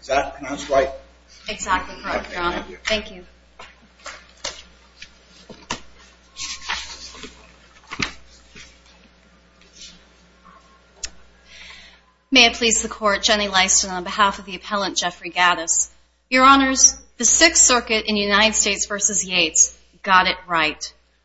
Is that pronounced right? Exactly correct, your honor. Thank you. May it please the court, Jenny Leiston on behalf of the appellant Geoffrey Gattis. Your honors, the 6th circuit in United States v. Yates got it right.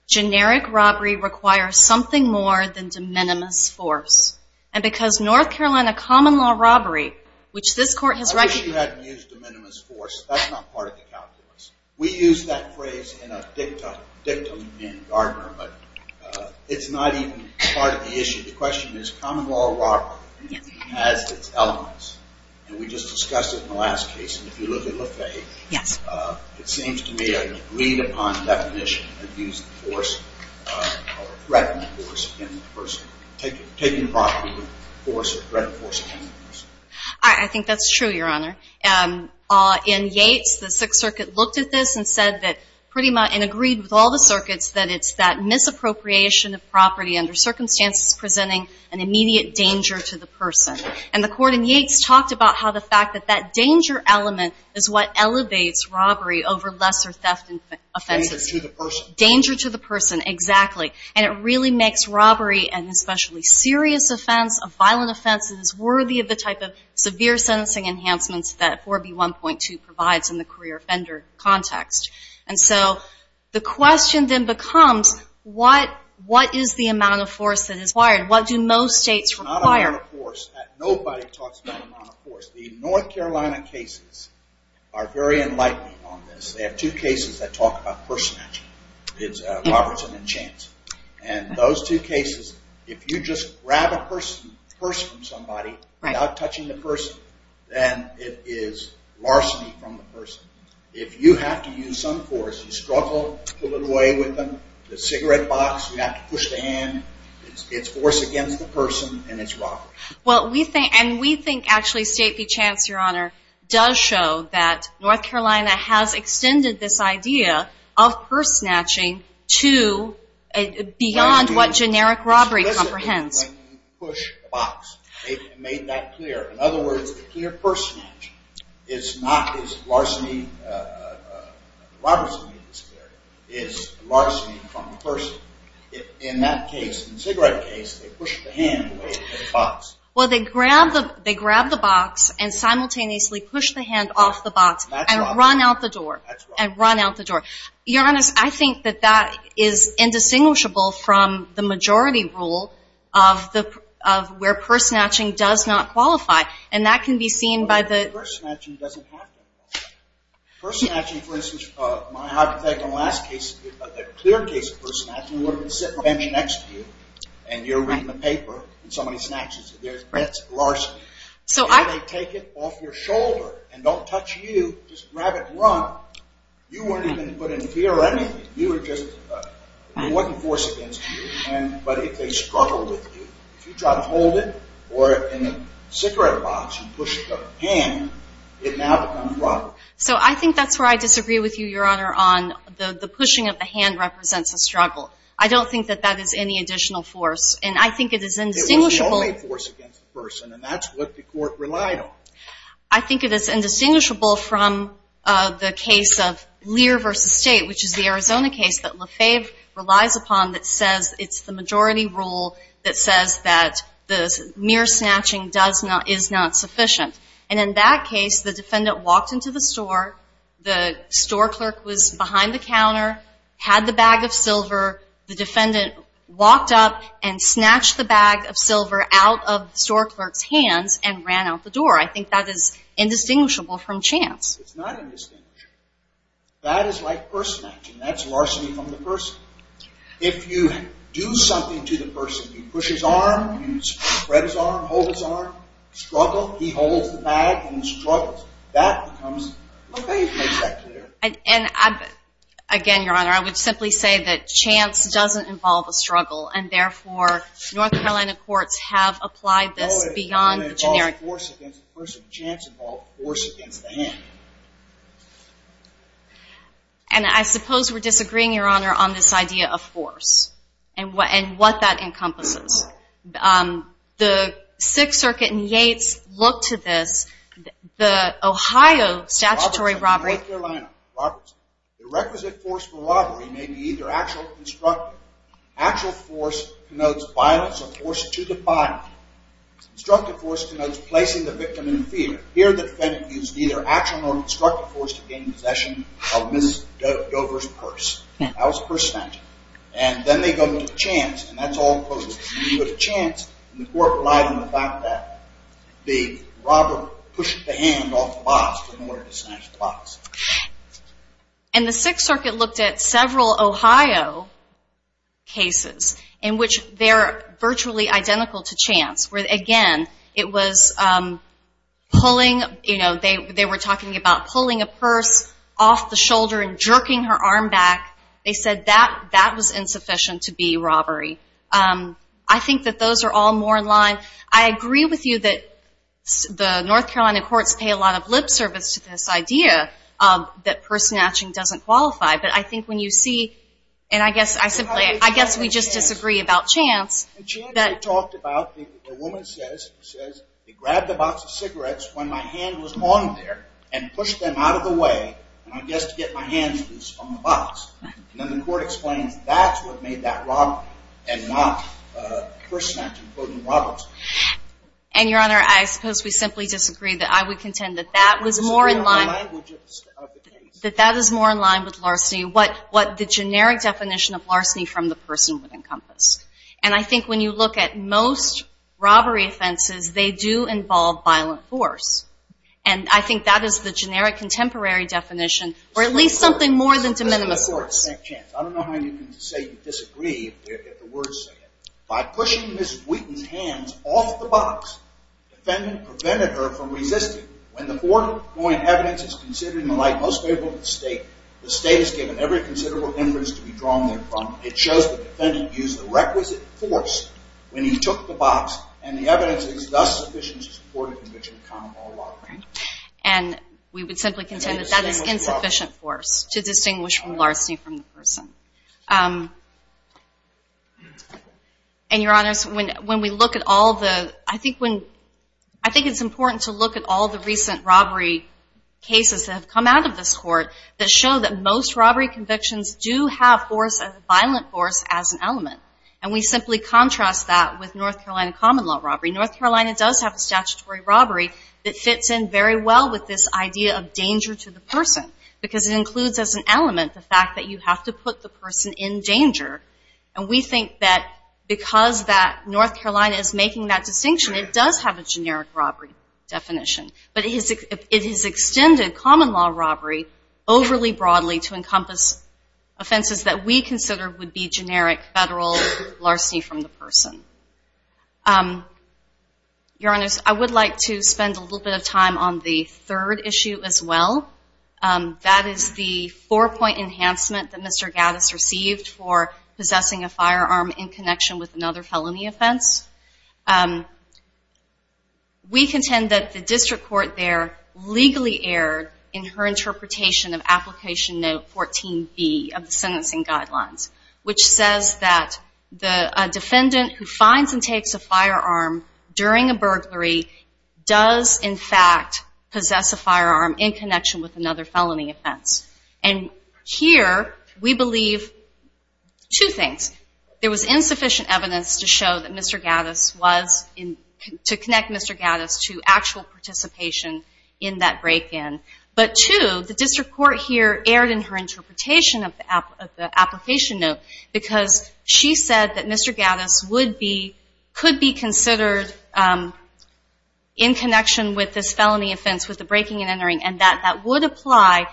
Generic robbery requires something more than de minimis force. And because North Carolina common law robbery, which this court has recognized. I think you haven't used de minimis force. That's not part of the calculus. We use that phrase in a dictum in Gardner, but it's not even part of the issue. The question is common law robbery has its elements. And we just discussed it in the last case. And if you look at Le Fay, it seems to me a agreed upon definition of using force or threatening force in the person. Taking the property or threatening force in the person. I think that's true, your honor. In Yates, the 6th circuit looked at this and said that pretty much, and agreed with all the circuits, that it's that misappropriation of property under circumstances presenting an immediate danger to the person. And the court in Yates talked about how the fact that that danger element is what elevates robbery over lesser theft offenses. Danger to the person. Danger to the person, exactly. And it really makes robbery an especially serious offense, a violent offense that is worthy of the type of severe sentencing enhancements that 4B1.2 provides in the career offender context. And so, the question then becomes, what is the amount of force that is required? What do most states require? Not amount of force. Nobody talks about amount of force. The North Carolina cases are very enlightening on this. They have two cases that talk about personality. It's Robertson and Chance. And those two cases, if you just grab a purse from somebody without touching the person, then it is larceny from the person. If you have to use some force, you struggle to pull it away with them, the cigarette box, you have to push the hand, it's force against the person, and it's robbery. And we think, actually, State v. Chance, your honor, does show that North Carolina has extended this idea of purse snatching to beyond what generic robbery comprehends. ...push the box. They've made that clear. In other words, the clear purse snatch is not as larceny as Robertson v. Chance. It's larceny from the person. In that case, in the cigarette case, they push the hand away at the box. Well, they grab the box and simultaneously push the hand off the box and run out the door. You're honest. I think that that is indistinguishable from the majority rule of where purse snatching does not qualify. And that can be seen by the... Well, purse snatching doesn't happen. Purse snatching, for instance, my hypothetical last case, a clear case of purse snatching, would have been sitting next to you, and you're reading the paper, and somebody snatches it. There's perhaps larceny. And they take it off your shoulder and don't touch you. Just grab it and run. You weren't even put in fear or anything. You were just...it wasn't force against you. But if they struggle with you, if you try to hold it or in the cigarette box and push the hand, it now becomes robbery. So I think that's where I disagree with you, Your Honor, on the pushing of the hand represents a struggle. I don't think that that is any additional force. And I think it is indistinguishable... It was the only force against the person, and that's what the court relied on. I think it is indistinguishable from the case of Lear v. State, which is the Arizona case that LaFave relies upon that says it's the majority rule that says that the mere snatching is not sufficient. And in that case, the defendant walked into the store. The store clerk was behind the counter, had the bag of silver. The defendant walked up and snatched the bag of silver out of the store clerk's hand and ran out the door. I think that is indistinguishable from chance. It's not indistinguishable. That is like purse snatching. That's larceny from the person. If you do something to the person, you push his arm, you spread his arm, hold his arm, struggle. He holds the bag and struggles. That becomes...LaFave makes that clear. And again, Your Honor, I would simply say that chance doesn't involve a struggle, and therefore, North Carolina courts have applied this beyond the generic... And I suppose we're disagreeing, Your Honor, on this idea of force and what that encompasses. The Sixth Circuit in Yates looked to this. The Ohio statutory robbery... Instructive force denotes placing the victim in fear. Here, the defendant used neither action nor instructive force to gain possession of Ms. Dover's purse. That was purse snatching. And then they go to chance and that's all it was. When you go to chance, the court relied on the fact that the robber pushed the hand off the box in order to snatch the box. And the Sixth Circuit looked at several Ohio cases in which they're virtually identical to chance, where again, it was pulling...they were talking about pulling a purse off the shoulder and jerking her arm back. They said that was insufficient to be robbery. I think that those are all more in line. I agree with you that the North Carolina courts pay a lot of lip service to this idea that purse snatching doesn't qualify. But I think when you see...and I guess I simply...I guess we just disagree about chance. In chance, they talked about...a woman says, she says, they grabbed a box of cigarettes when my hand was on there and pushed them out of the way, I guess to get my hands loose on the box. And then the court explains that's what made that robbery and not purse snatching, including robberies. And Your Honor, I suppose we simply disagree that I would contend that that was more in line... that that is more in line with larceny. What the generic definition of larceny from the person would encompass. And I think when you look at most robbery offenses, they do involve violent force. And I think that is the generic contemporary definition or at least something more than de minimis force. I don't know how you can say you disagree if the words say it. By pushing Ms. Wheaton's hands off the box, the defendant prevented her from resisting. When the court, knowing evidence is considered in the light most favorable to the state, the state has given every considerable interest to be drawn there from. It shows the defendant used the requisite force when he took the box and the evidence is thus sufficient to support a conviction of common law robbery. And we would simply contend that that is insufficient force to distinguish from larceny from the person. And Your Honor, when we look at all the...I think when... I think it's important to look at all the recent robbery cases that have come out of this court that show that most robbery convictions do have force as a violent force as an element. And we simply contrast that with North Carolina common law robbery. North Carolina does have a statutory robbery that fits in very well with this idea of danger to the person because it includes as an element the fact that you have to put the person in danger. And we think that because that North Carolina is making that distinction, it does have a generic robbery definition. But it has extended common law robbery overly broadly to encompass offenses that we consider would be generic federal larceny from the person. Your Honors, I would like to spend a little bit of time on the third issue as well. That is the four-point enhancement that Mr. Gaddis received for possessing a firearm in connection with another felony offense. We contend that the district court there legally erred in her interpretation of Application Note 14B of the Sentencing Guidelines, which says that a defendant who finds and takes a firearm during a burglary does in fact possess a firearm in connection with another felony offense. And here we believe two things. There was one, to connect Mr. Gaddis to actual participation in that break-in. But two, the district court here erred in her interpretation of the Application Note because she said that Mr. Gaddis could be considered in connection with this felony offense, with the breaking and entering, and that that would apply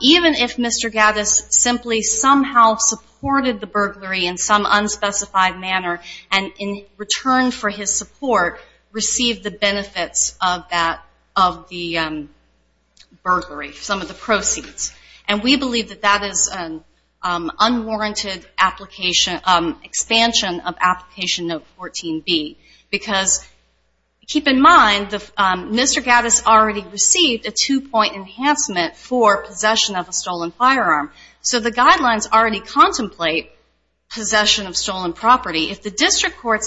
even if Mr. Gaddis simply somehow supported the burglary in some unspecified manner and in return for his support received the benefits of the burglary, some of the proceeds. And we believe that that is unwarranted expansion of Application Note 14B because keep in mind Mr. Gaddis already received a two-point enhancement for possession of a stolen firearm. So the guidelines already contemplate possession of stolen property. If the district court's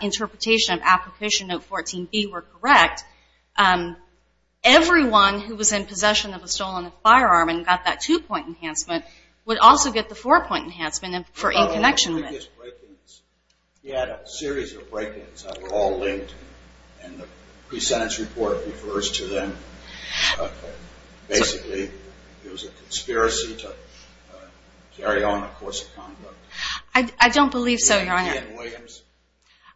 interpretation of Application Note 14B were correct, everyone who was in possession of a stolen firearm and got that two-point enhancement would also get the four-point enhancement for in connection with it. He had a series of break-ins that were all linked and the pre-sentence report refers to them. Basically, it was a conspiracy to carry on a course of conduct. I don't believe so, Your Honor.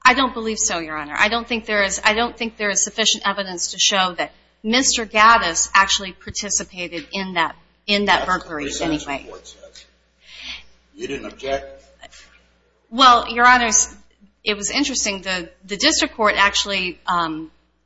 I don't believe so, Your Honor. I don't think there is sufficient evidence to show that Mr. Gaddis actually participated in that burglary in any way. You didn't object? Well, Your Honor, it was interesting. The district court actually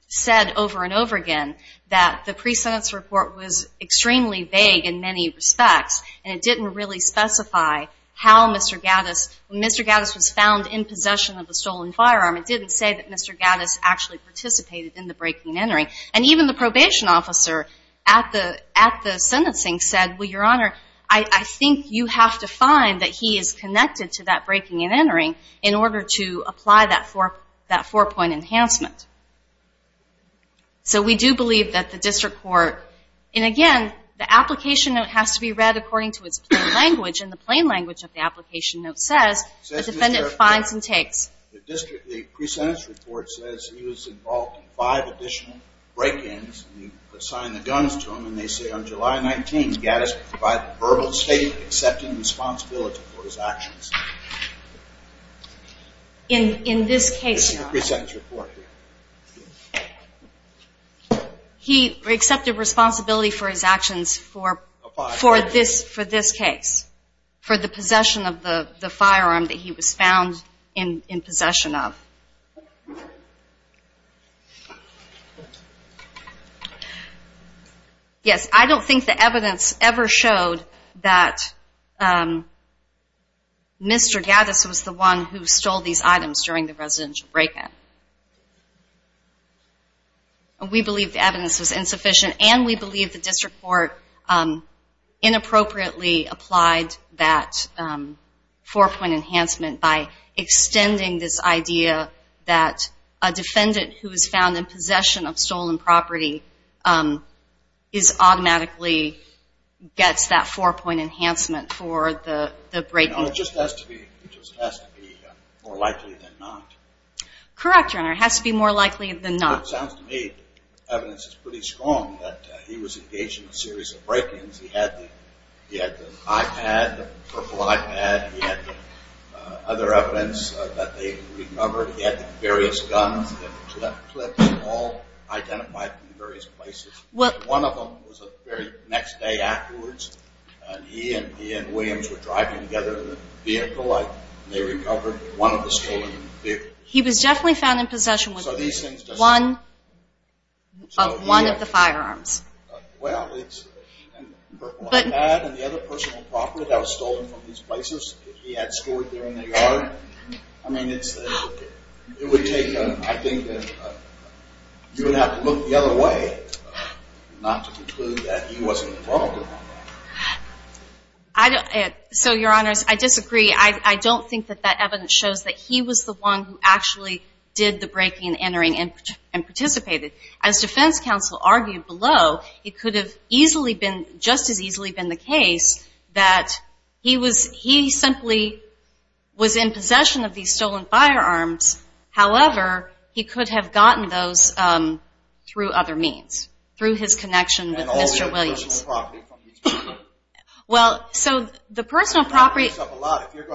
said over and over again that the pre-sentence report was extremely vague in many respects and it didn't really specify how Mr. Gaddis, when Mr. Gaddis was found in possession of a stolen firearm, it didn't say that Mr. Gaddis actually participated in the break-in and entering. And even the probation officer at the sentencing said, Your Honor, I think you have to find that he is connected to that break-in and entering in order to apply that four-point enhancement. So we do believe that the district court, and again, the application note has to be read according to its plain language, and the plain language of the application note says, the defendant finds and takes. The district, the pre-sentence report says he was involved in five additional break-ins and you assign the guns to him and they say on July 19, Gaddis provided verbal statement accepting responsibility for his actions. In this case, Your Honor. This is the pre-sentence report here. He accepted responsibility for his actions for this case. For the possession of the firearm that he was found in possession of. Yes, I don't think the evidence ever showed that Mr. Gaddis was the one who stole these items during the break-in. We believe the evidence was insufficient and we believe the district court inappropriately applied that four-point enhancement by extending this idea that a defendant who was found in possession of stolen property is automatically gets that four-point enhancement for the break-in. It just has to be more likely than not. Correct, Your Honor. It has to be more likely than not. Evidence is pretty strong that he was engaged in a series of break-ins. He had the iPad, the purple iPad. He had other evidence that they recovered. He had various guns and clips all identified in various places. One of them was the very next day afterwards and he and Williams were driving together in a vehicle and they he was definitely found in possession of one of the firearms. The iPad and the other personal property that was stolen from these places that he had stored there in the yard. I mean, it would take I think that you would have to look the other way not to conclude that he wasn't involved. So, Your Honors, I disagree. I don't think that that actually did the break-in entering and participated. As defense counsel argued below, it could have easily been just as easily been the case that he was he simply was in possession of these stolen firearms. However, he could have gotten those through other means. Through his connection with Mr. Williams. Well, so the personal property So, Your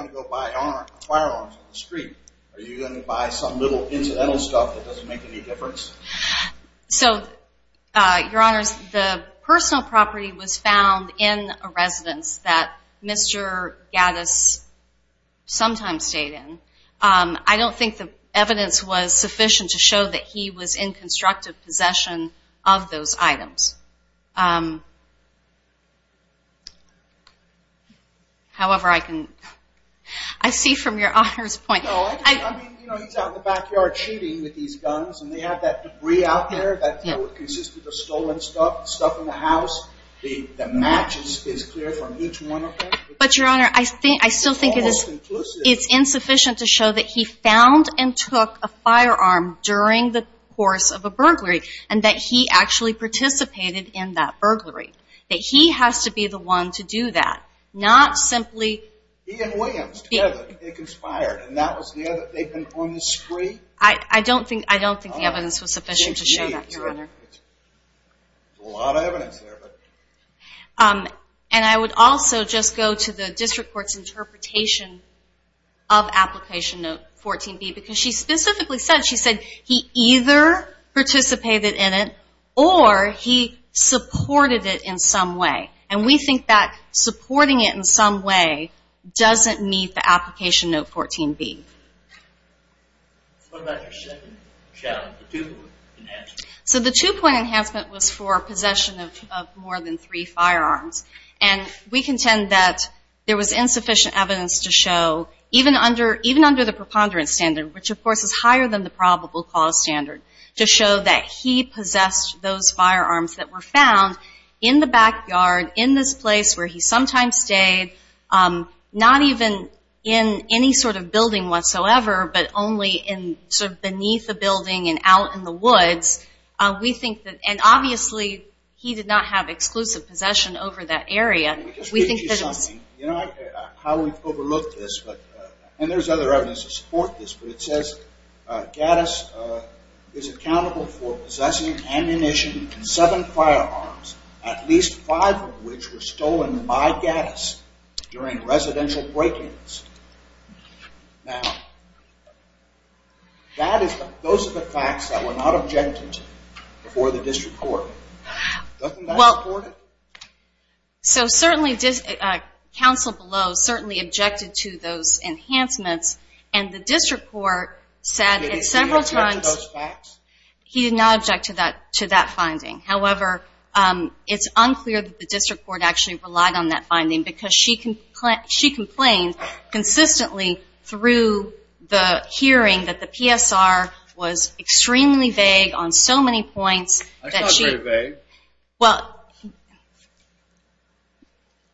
Honors, the personal property was found in a residence that Mr. Gaddis sometimes stayed in. I don't think the evidence was sufficient to show that he was in constructive possession Mr. Gaddis was in possession of those items. I see from Your Honors point He's out in the backyard shooting with these guns and they have that debris out there that consisted of stolen stuff, stuff in the house that matches is clear from each one of them. It's insufficient to show that he found and took a firearm during the course of a burglary and that he actually participated in that burglary. That he has to be the one to do that. Not simply I don't think the evidence was sufficient to show that. And I would also just go to the district court's interpretation of application 14b because she specifically said he either participated in it or he supported it in some way. And we think that supporting it in some way doesn't meet the application note 14b. So the two point enhancement was for possession of more than three firearms. And we contend that there was insufficient evidence to show even under the preponderance standard, which of course is higher than the probable cause standard, to show that he possessed those firearms that were stored in this place where he sometimes stayed. Not even in any sort of building whatsoever, but only in sort of beneath the building and out in the woods. We think that and obviously he did not have exclusive possession over that area. Let me just give you something. You know how we've overlooked this and there's other evidence to support this, but it says Gaddis is accountable for possessing ammunition and seven firearms, at least five of which were stolen by Gaddis during residential break-ins. Now, those are the facts that were not objected to before the district court. Doesn't that support it? So certainly council below certainly objected to those enhancements and the district court said several times... Did he object to those facts? He did not object to that finding. However, it's unclear that the district court actually relied on that finding because she complained consistently through the hearing that the PSR was extremely vague on so many points... That's not very vague.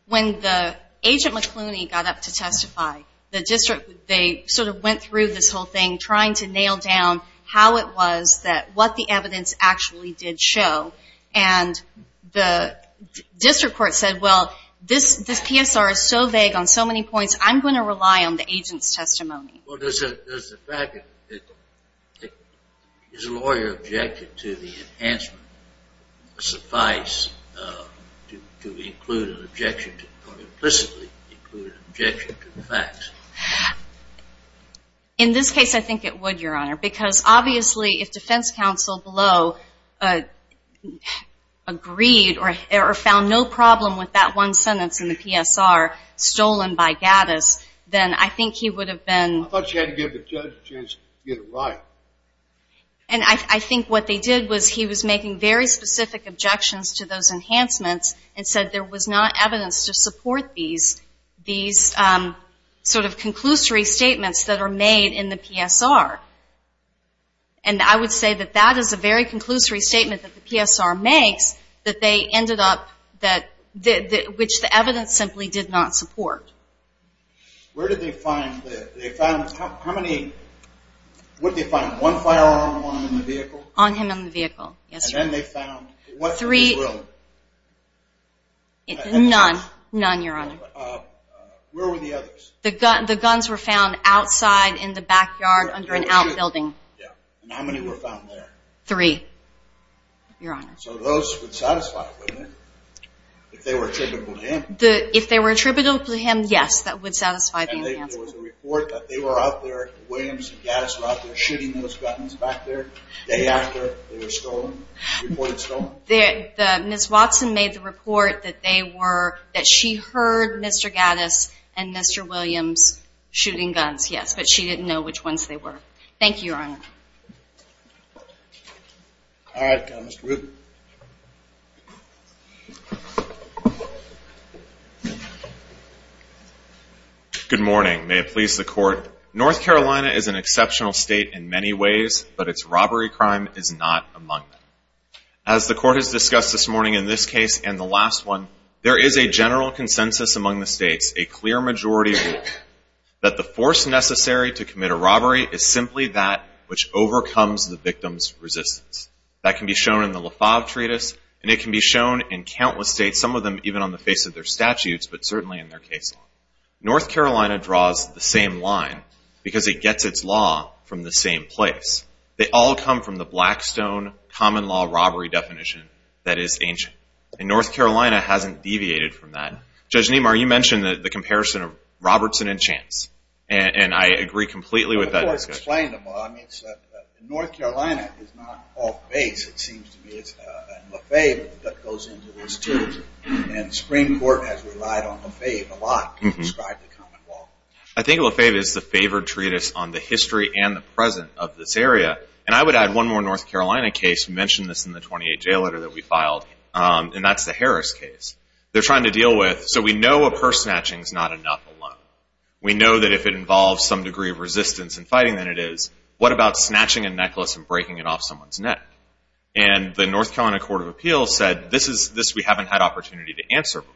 When the agent McLooney got up to testify, the district they sort of went through this whole thing trying to nail down how it was, what the evidence actually did show, and the district court said, well, this PSR is so vague on so many points, I'm going to rely on the agent's testimony. Well, does the fact that his lawyer objected to the enhancement suffice to include an objection or implicitly include an objection to the facts? In this case, I think it would, Your Honor, because obviously if defense counsel below agreed or found no problem with that one sentence in the PSR stolen by Gaddis, then I think he would have been... I thought she had to give the judge a chance to get it right. And I think what they did was he was making very specific objections to those enhancements and said there was not evidence to support these sort of conclusory statements that are made in the PSR. And I would say that that is a very conclusory statement that the PSR makes that they ended up... which the evidence simply did not support. Where did they find... What did they find? One firearm on him in the vehicle? On him in the vehicle, yes. And then they found... None, Your Honor. Where were the others? The guns were found outside in the backyard under an outbuilding. And how many were found there? Three, Your Honor. So those would satisfy, wouldn't they? If they were attributable to him. If they were attributable to him, yes, that would satisfy the enhancements. And there was a report that they were out there, Williams and Gaddis were out there shooting those guns back there the day after they were stolen? Miss Watson made the report that they were... that she heard Mr. Gaddis and Mr. Williams shooting guns, yes, but she didn't know which ones they were. Thank you, Your Honor. Good morning. May it please the Court. North Carolina is an exceptional state in many ways, but its robbery crime is not among them. As the Court has discussed this morning in this case and the last one, there is a general consensus among the states, a clear majority, that the force necessary to commit a robbery is simply that which overcomes the victim's resistance. That can be shown in the LaFave Treatise and it can be shown in countless states, some of them even on the face of their statutes, but certainly in their case law. North Carolina draws the same line because it gets its law from the same place. They all come from the Blackstone common law robbery definition that is ancient. And North Carolina hasn't deviated from that. Judge Niemar, you mentioned the comparison of Robertson and Chance, and I agree completely with that discussion. Well, of course, explain the law. North Carolina is not off base, it seems to me. It's LaFave that goes into this too. And Supreme Court has relied on LaFave a lot to describe the common law. I think LaFave is the favored treatise on the history and the present of this area. And I would add one more North Carolina case, we mentioned this in the 28 jail letter that we filed, and that's the Harris case. They're trying to deal with, so we know a purse snatching is not enough alone. We know that if it involves some degree of resistance in fighting than it is, what about snatching a necklace and breaking it off someone's neck? And the North Carolina Court of Appeals said, this we haven't had opportunity to answer before.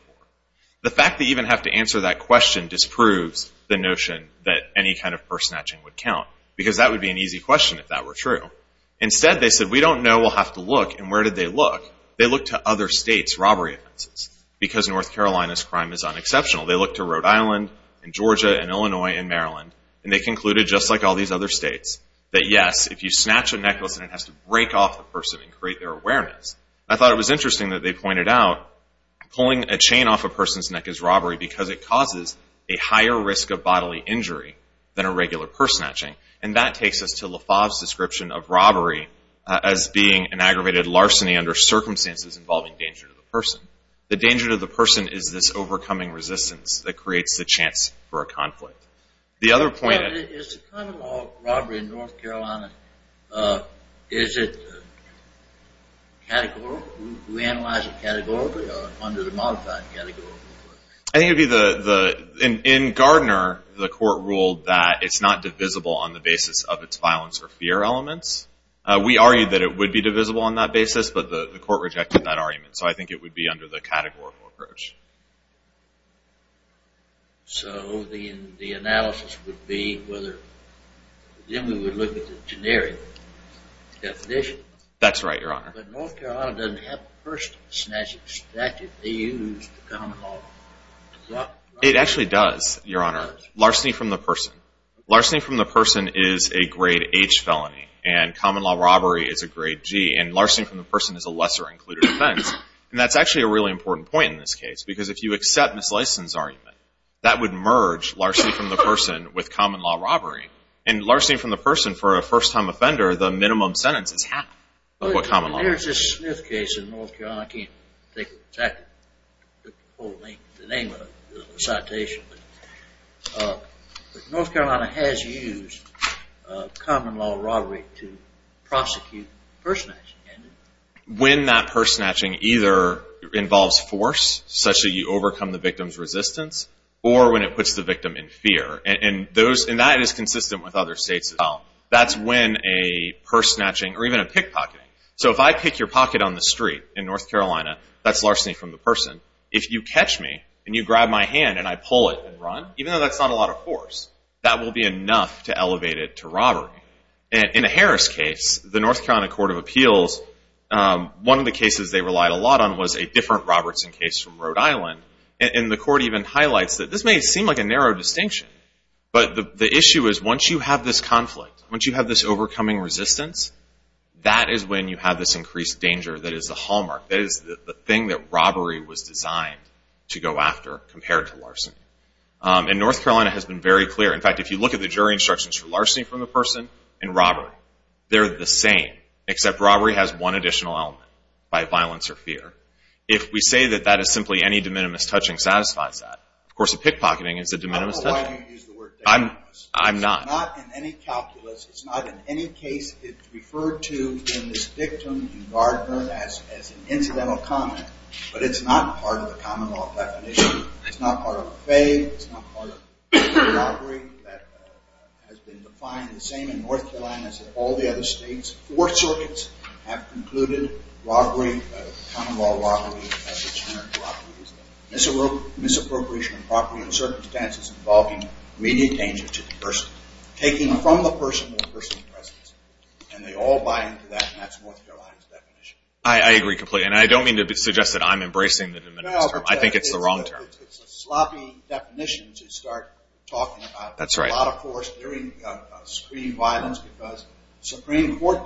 The fact that you even have to answer that question disproves the notion that any kind of purse snatching is an easy question, if that were true. Instead, they said, we don't know, we'll have to look. And where did they look? They looked to other states' robbery offenses, because North Carolina's crime is unexceptional. They looked to Rhode Island and Georgia and Illinois and Maryland, and they concluded, just like all these other states, that yes, if you snatch a necklace and it has to break off the person and create their awareness. I thought it was interesting that they pointed out pulling a chain off a person's neck is robbery because it causes a higher risk of bodily injury than a LaFave's description of robbery as being an aggravated larceny under circumstances involving danger to the person. The danger to the person is this overcoming resistance that creates the chance for a conflict. The other point... Is the crime of robbery in North Carolina, is it categorical? Do we analyze it categorically or under the modified category? In Gardner, the court ruled that it's not divisible on the basis of its violence or fear elements. We argued that it would be divisible on that basis, but the court rejected that argument. So I think it would be under the categorical approach. So the analysis would be whether... Then we would look at the generic definition. That's right, Your Honor. But North Carolina doesn't have the first snatching statute. They use the common law. It actually does, Your Honor. Larceny from the person. Larceny from the person is a grade H felony. And common law robbery is a grade G. And larceny from the person is a lesser included offense. And that's actually a really important point in this case. Because if you accept Ms. Lyson's argument, that would merge larceny from the person with common law robbery. And larceny from the person for a first-time offender, the minimum sentence is half of what common law is. I can't think of exactly the name of the citation, but North Carolina has used common law robbery to prosecute purse snatching. When that purse snatching either involves force, such that you overcome the victim's resistance, or when it puts the victim in fear. And that is consistent with other states as well. That's when a purse snatching, or even a pickpocketing... So if I pick your pocket on the street in North Carolina, that's larceny from the person. If you catch me and you grab my hand and I pull it and run, even though that's not a lot of force, that will be enough to elevate it to robbery. In a Harris case, the North Carolina Court of Appeals, one of the cases they relied a lot on was a different Robertson case from Rhode Island. And the court even highlights that this may seem like a narrow distinction, but the issue is once you have this conflict, once you have this overcoming resistance, that is when you have this increased danger that is the hallmark. That is the thing that robbery was designed to go after compared to larceny. And North Carolina has been very clear. In fact, if you look at the jury instructions for larceny from the person and robbery, they're the same. Except robbery has one additional element by violence or fear. If we say that that is simply any de minimis touching satisfies that. Of course, a pickpocketing is a de minimis touching. I don't know why you use the word de minimis. I'm not. It's not in any calculus. It's not in any case. It's referred to in this victim and gardener as an incidental comment, but it's not part of the common law definition. It's not part of a fade. It's not part of robbery that has been defined the same in North Carolina as in all the other states. Four circuits have concluded robbery, common law robbery, as inherent to robbery. Misappropriation of property in circumstances involving immediate danger to the person. Taking from the person their personal presence. And they all buy into that. And that's North Carolina's definition. I agree completely. And I don't mean to suggest that I'm embracing the de minimis term. I think it's the wrong term. It's a sloppy definition to start talking about. That's right. A lot of force during screen violence because Supreme Court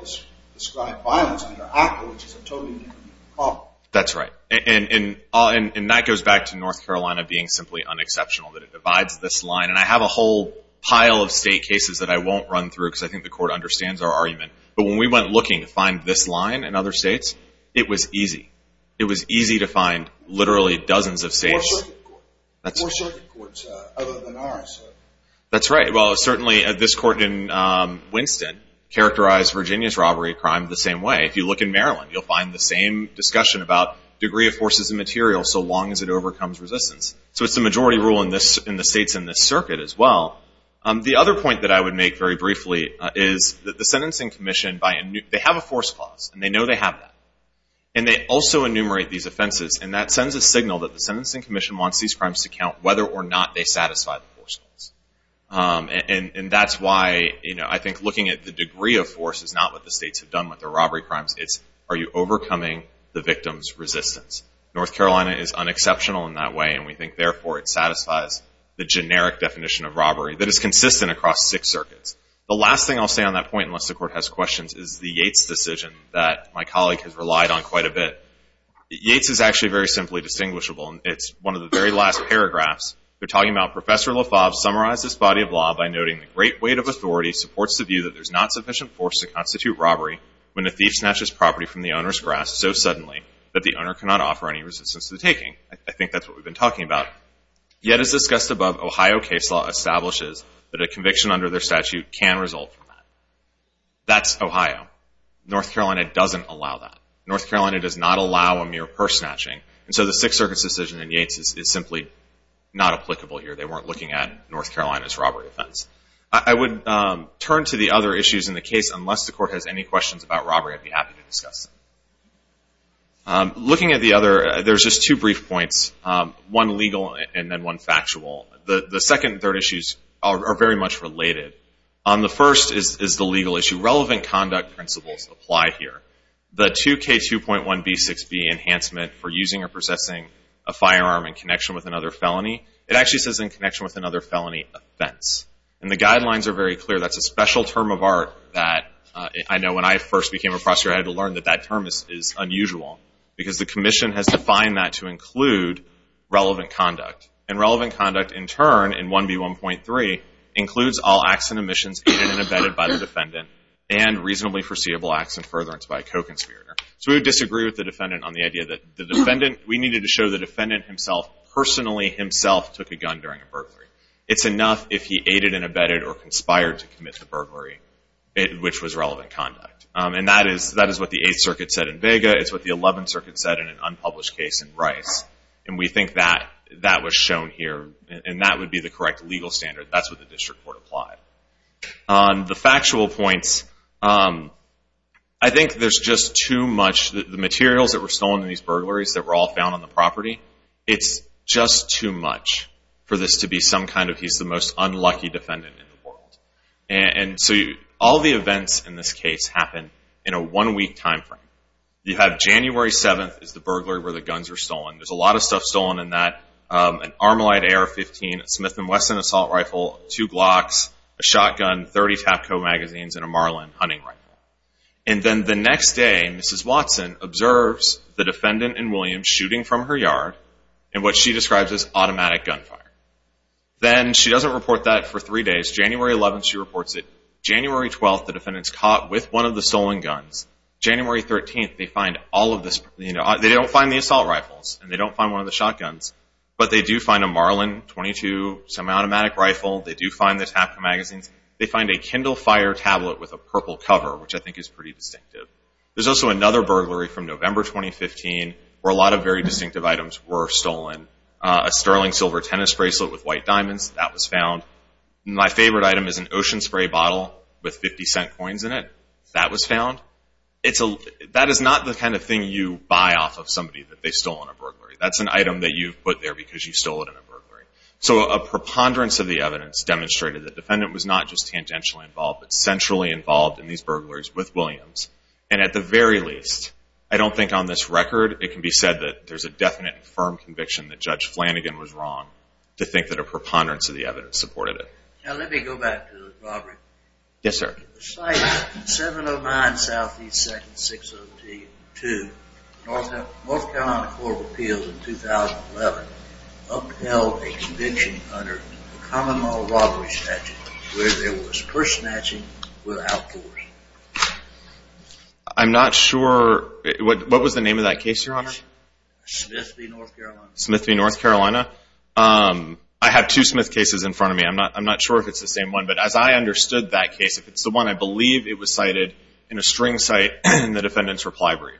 described violence under ACCA, which is a totally different problem. That's right. And that goes back to North Carolina being simply unexceptional. That it divides this line. And I have a whole pile of state cases that I won't run through because I think the court understands our argument. But when we went looking to find this line in other states, it was easy. It was easy to find literally dozens of states. That's right. Well, certainly this court in Winston characterized Virginia's robbery crime the same way. If you look in Maryland you'll find the same discussion about degree of forces and material so long as it overcomes resistance. So it's the majority rule in the states in this circuit as well. The other point that I would make very briefly is that the Sentencing Commission, they have a force clause. And they know they have that. And they also enumerate these offenses. And that sends a signal that the Sentencing Commission wants these crimes to count whether or not they satisfy the force clause. And that's why I think looking at the degree of force is not what the states have done with the robbery crimes. It's are you overcoming the victim's resistance. North Carolina is unexceptional in that way. And we think therefore it satisfies the generic definition of robbery that is consistent across six circuits. The last thing I'll say on that point, unless the Court has questions, is the Yates decision that my colleague has relied on quite a bit. Yates is actually very simply distinguishable. It's one of the very last paragraphs. They're talking about Professor LaFave summarized this body of law by noting the great weight of authority supports the view that there's not sufficient force to constitute robbery when a thief snatches property from the owner's grasp so suddenly that the owner cannot offer any resistance to the taking. I think that's what we've been talking about. Yet as discussed above, Ohio case law establishes that a conviction under their statute can result from that. That's Ohio. North Carolina doesn't allow that. North Carolina does not allow a mere purse snatching. And so the six circuits decision in Yates is simply not applicable here. They weren't looking at North Carolina's robbery offense. I would turn to the other issues in the case. Unless the Court has any questions about robbery, I'd be happy to discuss them. Looking at the other, there's just two brief points. One legal and then one factual. The second and third issues are very much related. The first is the legal issue. Relevant conduct principles apply here. The 2K2.1b6b enhancement for using or possessing a firearm in connection with another felony, it actually says in connection with another felony offense. And the guidelines are very clear. That's a special term of art that I know when I first became a prosecutor I had to learn that that term is unusual. Because the commission has defined that to include relevant conduct. And relevant conduct in turn in 1B1.3 includes all acts and omissions aided and abetted by the defendant and reasonably foreseeable acts and furtherance by a co-conspirator. So we would disagree with the defendant on the idea that we needed to show the defendant himself personally himself took a gun during a burglary. It's enough if he aided and abetted or conspired to commit the burglary which was relevant conduct. And that is what the 8th Circuit said in Vega. It's what the 11th Circuit said in an unpublished case in Rice. And we think that was shown here. And that would be the correct legal standard. That's what the district court applied. The factual points, I think there's just too much. The materials that were stolen in these burglaries that were all found on the property, it's just too much for this to be some kind of he's the most unlucky defendant in the world. And so all the events in this case happen in a one week time frame. You have January 7th is the burglary where the guns were stolen. There's a lot of stuff stolen in that. An Armalite AR-15, Smith & Wesson assault rifle, two Glocks, a shotgun, 30 Tapco magazines, and a Marlin hunting rifle. And then the next day Mrs. Watson observes the defendant and Williams shooting from her yard in what she describes as automatic gunfire. Then she doesn't report that for three days. January 11th she reports it. January 12th the defendant's caught with one of the stolen guns. January 13th they find all of this. They don't find the assault rifles. And they don't find one of the shotguns. But they do find a Marlin 22 semi-automatic rifle. They do find the Tapco magazines. They find a Kindle Fire tablet with a purple cover, which I think is pretty distinctive. There's also another burglary from November 2015 where a lot of very distinctive items were stolen. A sterling silver tennis bracelet with white diamonds, that was found. My favorite item is an ocean spray bottle with 50 cent coins in it. That was found. That is not the kind of thing you buy off of somebody that they stole in a burglary. That's an item that you've put there because you stole it in a burglary. So a preponderance of the evidence demonstrated that the defendant was not just tangentially involved but centrally involved in these burglaries with Williams. And at the very least I don't think on this record it can be said that there's a definite and firm conviction that Judge Flanagan was wrong to think that a preponderance of the evidence supported it. Now let me go back to the robbery. Yes, sir. The site, 709 Southeast 2nd, 602 North Carolina Court of Appeals in 2011 upheld a conviction under a common law robbery statute where there was purse snatching without force. I'm not sure. What was the name of that case, Your Honor? Smith v. North Carolina. I have two Smith cases in front of me. I'm not sure if it's the same one. But as I understood that case, if it's the one I believe it was cited in a string cite in the defendant's reply brief,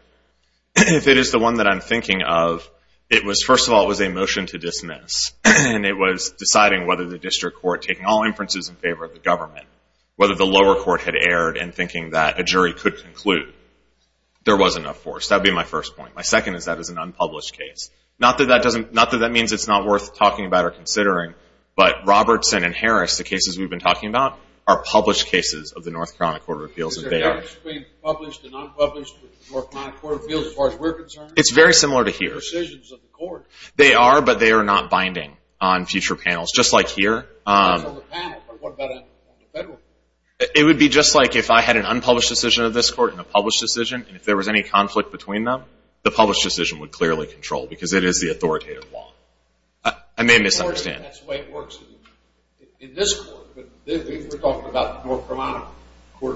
if it is the one that I'm thinking of it was, first of all, it was a motion to dismiss. And it was deciding whether the district court, taking all inferences in favor of the government, whether the lower court had erred in thinking that a jury could conclude there was a conviction of force. That would be my first point. My second is that it was an unpublished case. Not that that means it's not worth talking about or considering, but Robertson and Harris, the cases we've been talking about, are published cases of the North Carolina Court of Appeals. Is there evidence between published and unpublished North Carolina Court of Appeals as far as we're concerned? It's very similar to here. They are, but they are not binding on future panels, just like here. It would be just like if I had an unpublished decision of this conflict between them, the published decision would clearly control, because it is the authoritative law. I may misunderstand.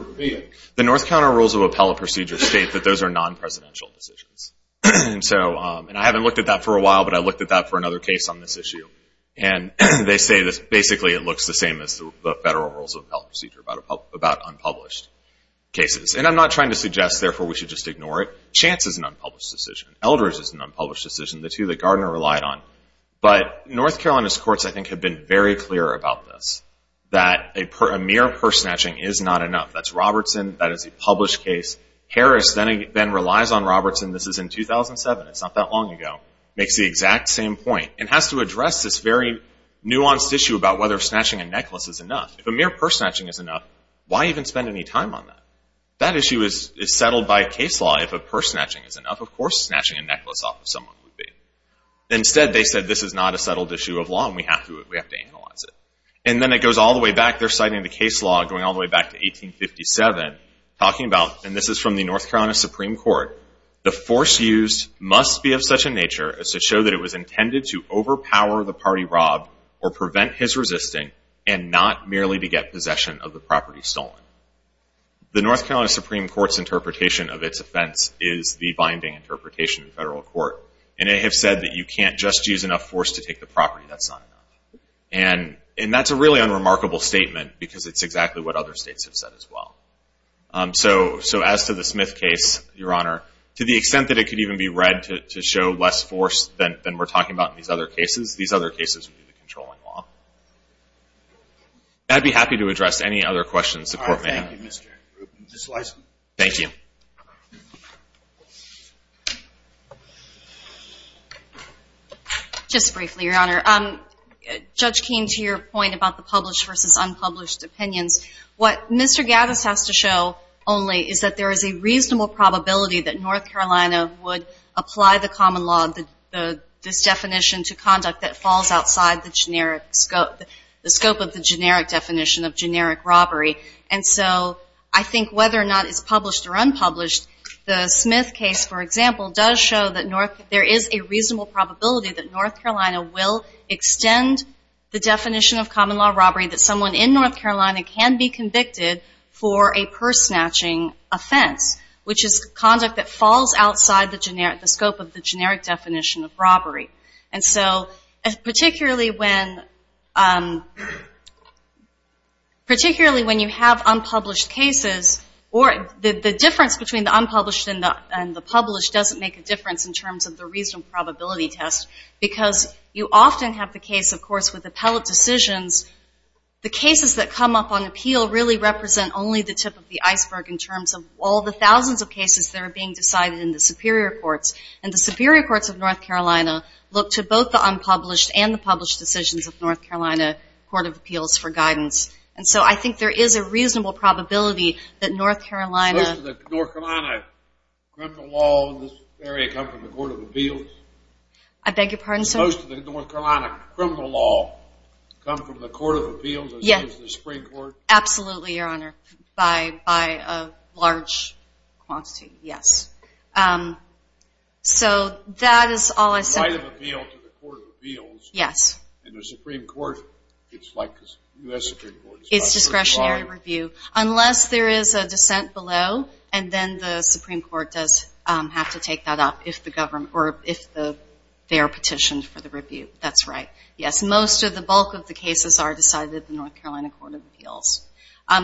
The North Carolina Rules of Appellate Procedure state that those are non-presidential decisions. The North Carolina Rules of Appellate Procedure state that those are non-presidential decisions. And I haven't looked at that for a while, but I looked at that for another case on this issue. And they say that basically it looks the same as the Federal Rules of Appellate Procedure about unpublished cases. And I'm not trying to suggest therefore we should just ignore it. Chance is an unpublished decision. Eldridge is an unpublished decision. The two that Gardner relied on. But North Carolina's courts I think have been very clear about this. That a mere purse snatching is not enough. That's Robertson. That is a published case. Harris then relies on Robertson. This is in 2007. It's not that long ago. Makes the exact same point. And has to address this very nuanced issue about whether snatching a necklace is enough. If a mere purse snatching is enough, why even spend any time on that? That issue is settled by case law if a purse snatching is enough. Of course snatching a necklace off of someone would be. Instead they said this is not a settled issue of law and we have to analyze it. And then it goes all the way back. They're citing the case law going all the way back to 1857 talking about, and this is from the North Carolina Supreme Court, the force used must be of such a nature as to show that it was intended to overpower the party robbed or prevent his resisting and not merely to get possession of the property stolen. The North Carolina Supreme Court's interpretation of its offense is the binding interpretation in federal court. And they have said that you can't just use enough force to take the property. That's not enough. And that's a really unremarkable statement because it's exactly what other states have said as well. So as to the Smith case, Your Honor, to the extent that it could even be read to show less force than we're talking about in these other cases, these other cases would be the controlling law. I'd be happy to address any other questions the Court may have. Thank you. Just briefly, Your Honor. Judge Keene, to your point about the published versus unpublished opinions, what Mr. Gaddis has to show only is that there is a reasonable probability that North Carolina would apply the common law, this definition to conduct that scope of the generic definition of generic robbery. And so I think whether or not it's published or unpublished, the Smith case, for example, does show that there is a reasonable probability that North Carolina will extend the definition of common law robbery that someone in North Carolina can be convicted for a purse snatching offense, which is conduct that falls outside the scope of the generic definition of robbery. And so particularly when you have unpublished cases, or the difference between the unpublished and the published doesn't make a difference in terms of the reasonable probability test, because you often have the case, of course, with appellate decisions, the cases that come up on appeal really represent only the tip of the iceberg in terms of all the thousands of cases that are being decided in the Superior Courts. And the Superior Courts of North Carolina look to both the unpublished and the published decisions of North Carolina Court of Appeals for guidance. And so I think there is a reasonable probability that North Carolina... So most of the North Carolina criminal law in this area come from the Court of Appeals? I beg your pardon, sir? Most of the North Carolina criminal law come from the Court of Appeals as well as the Supreme Court? Absolutely, Your Honor, by a large quantity, yes. So that is all I said. Yes. And the Supreme Court, it's like the U.S. Supreme Court. It's discretionary review, unless there is a dissent below, and then the Supreme Court does have to take that up if they are petitioned for the review. That's right. Yes, most of the bulk of the cases are decided at the North Carolina Court of Appeals.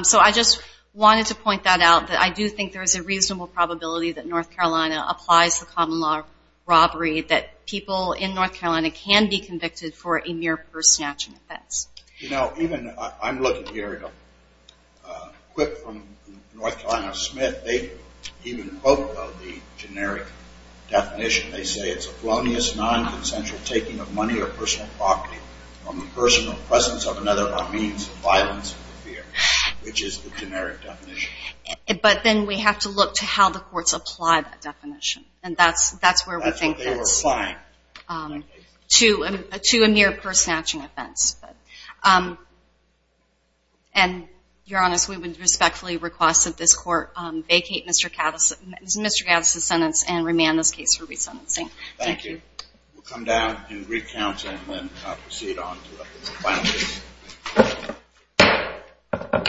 So I just wanted to point that out that I do think there is a reasonable probability that North Carolina applies the common law robbery, that people in North Carolina can be convicted for a mere personal action offense. You know, even... I'm looking here at a clip from North Carolina Smith. They even quote the generic definition. They say, it's a felonious, non-consensual taking of money or personal property from the person or presence of another by means of violence or fear, which is the generic definition. But then we have to look to how the courts apply that definition. And that's where we think it's... That's what they were applying. To a mere personal action offense. And you're honest, we would respectfully request that this Court vacate Mr. Gaddis' sentence and remand this case for re-sentencing. Thank you. We'll come down and recount and then proceed on to the final case. Thank you.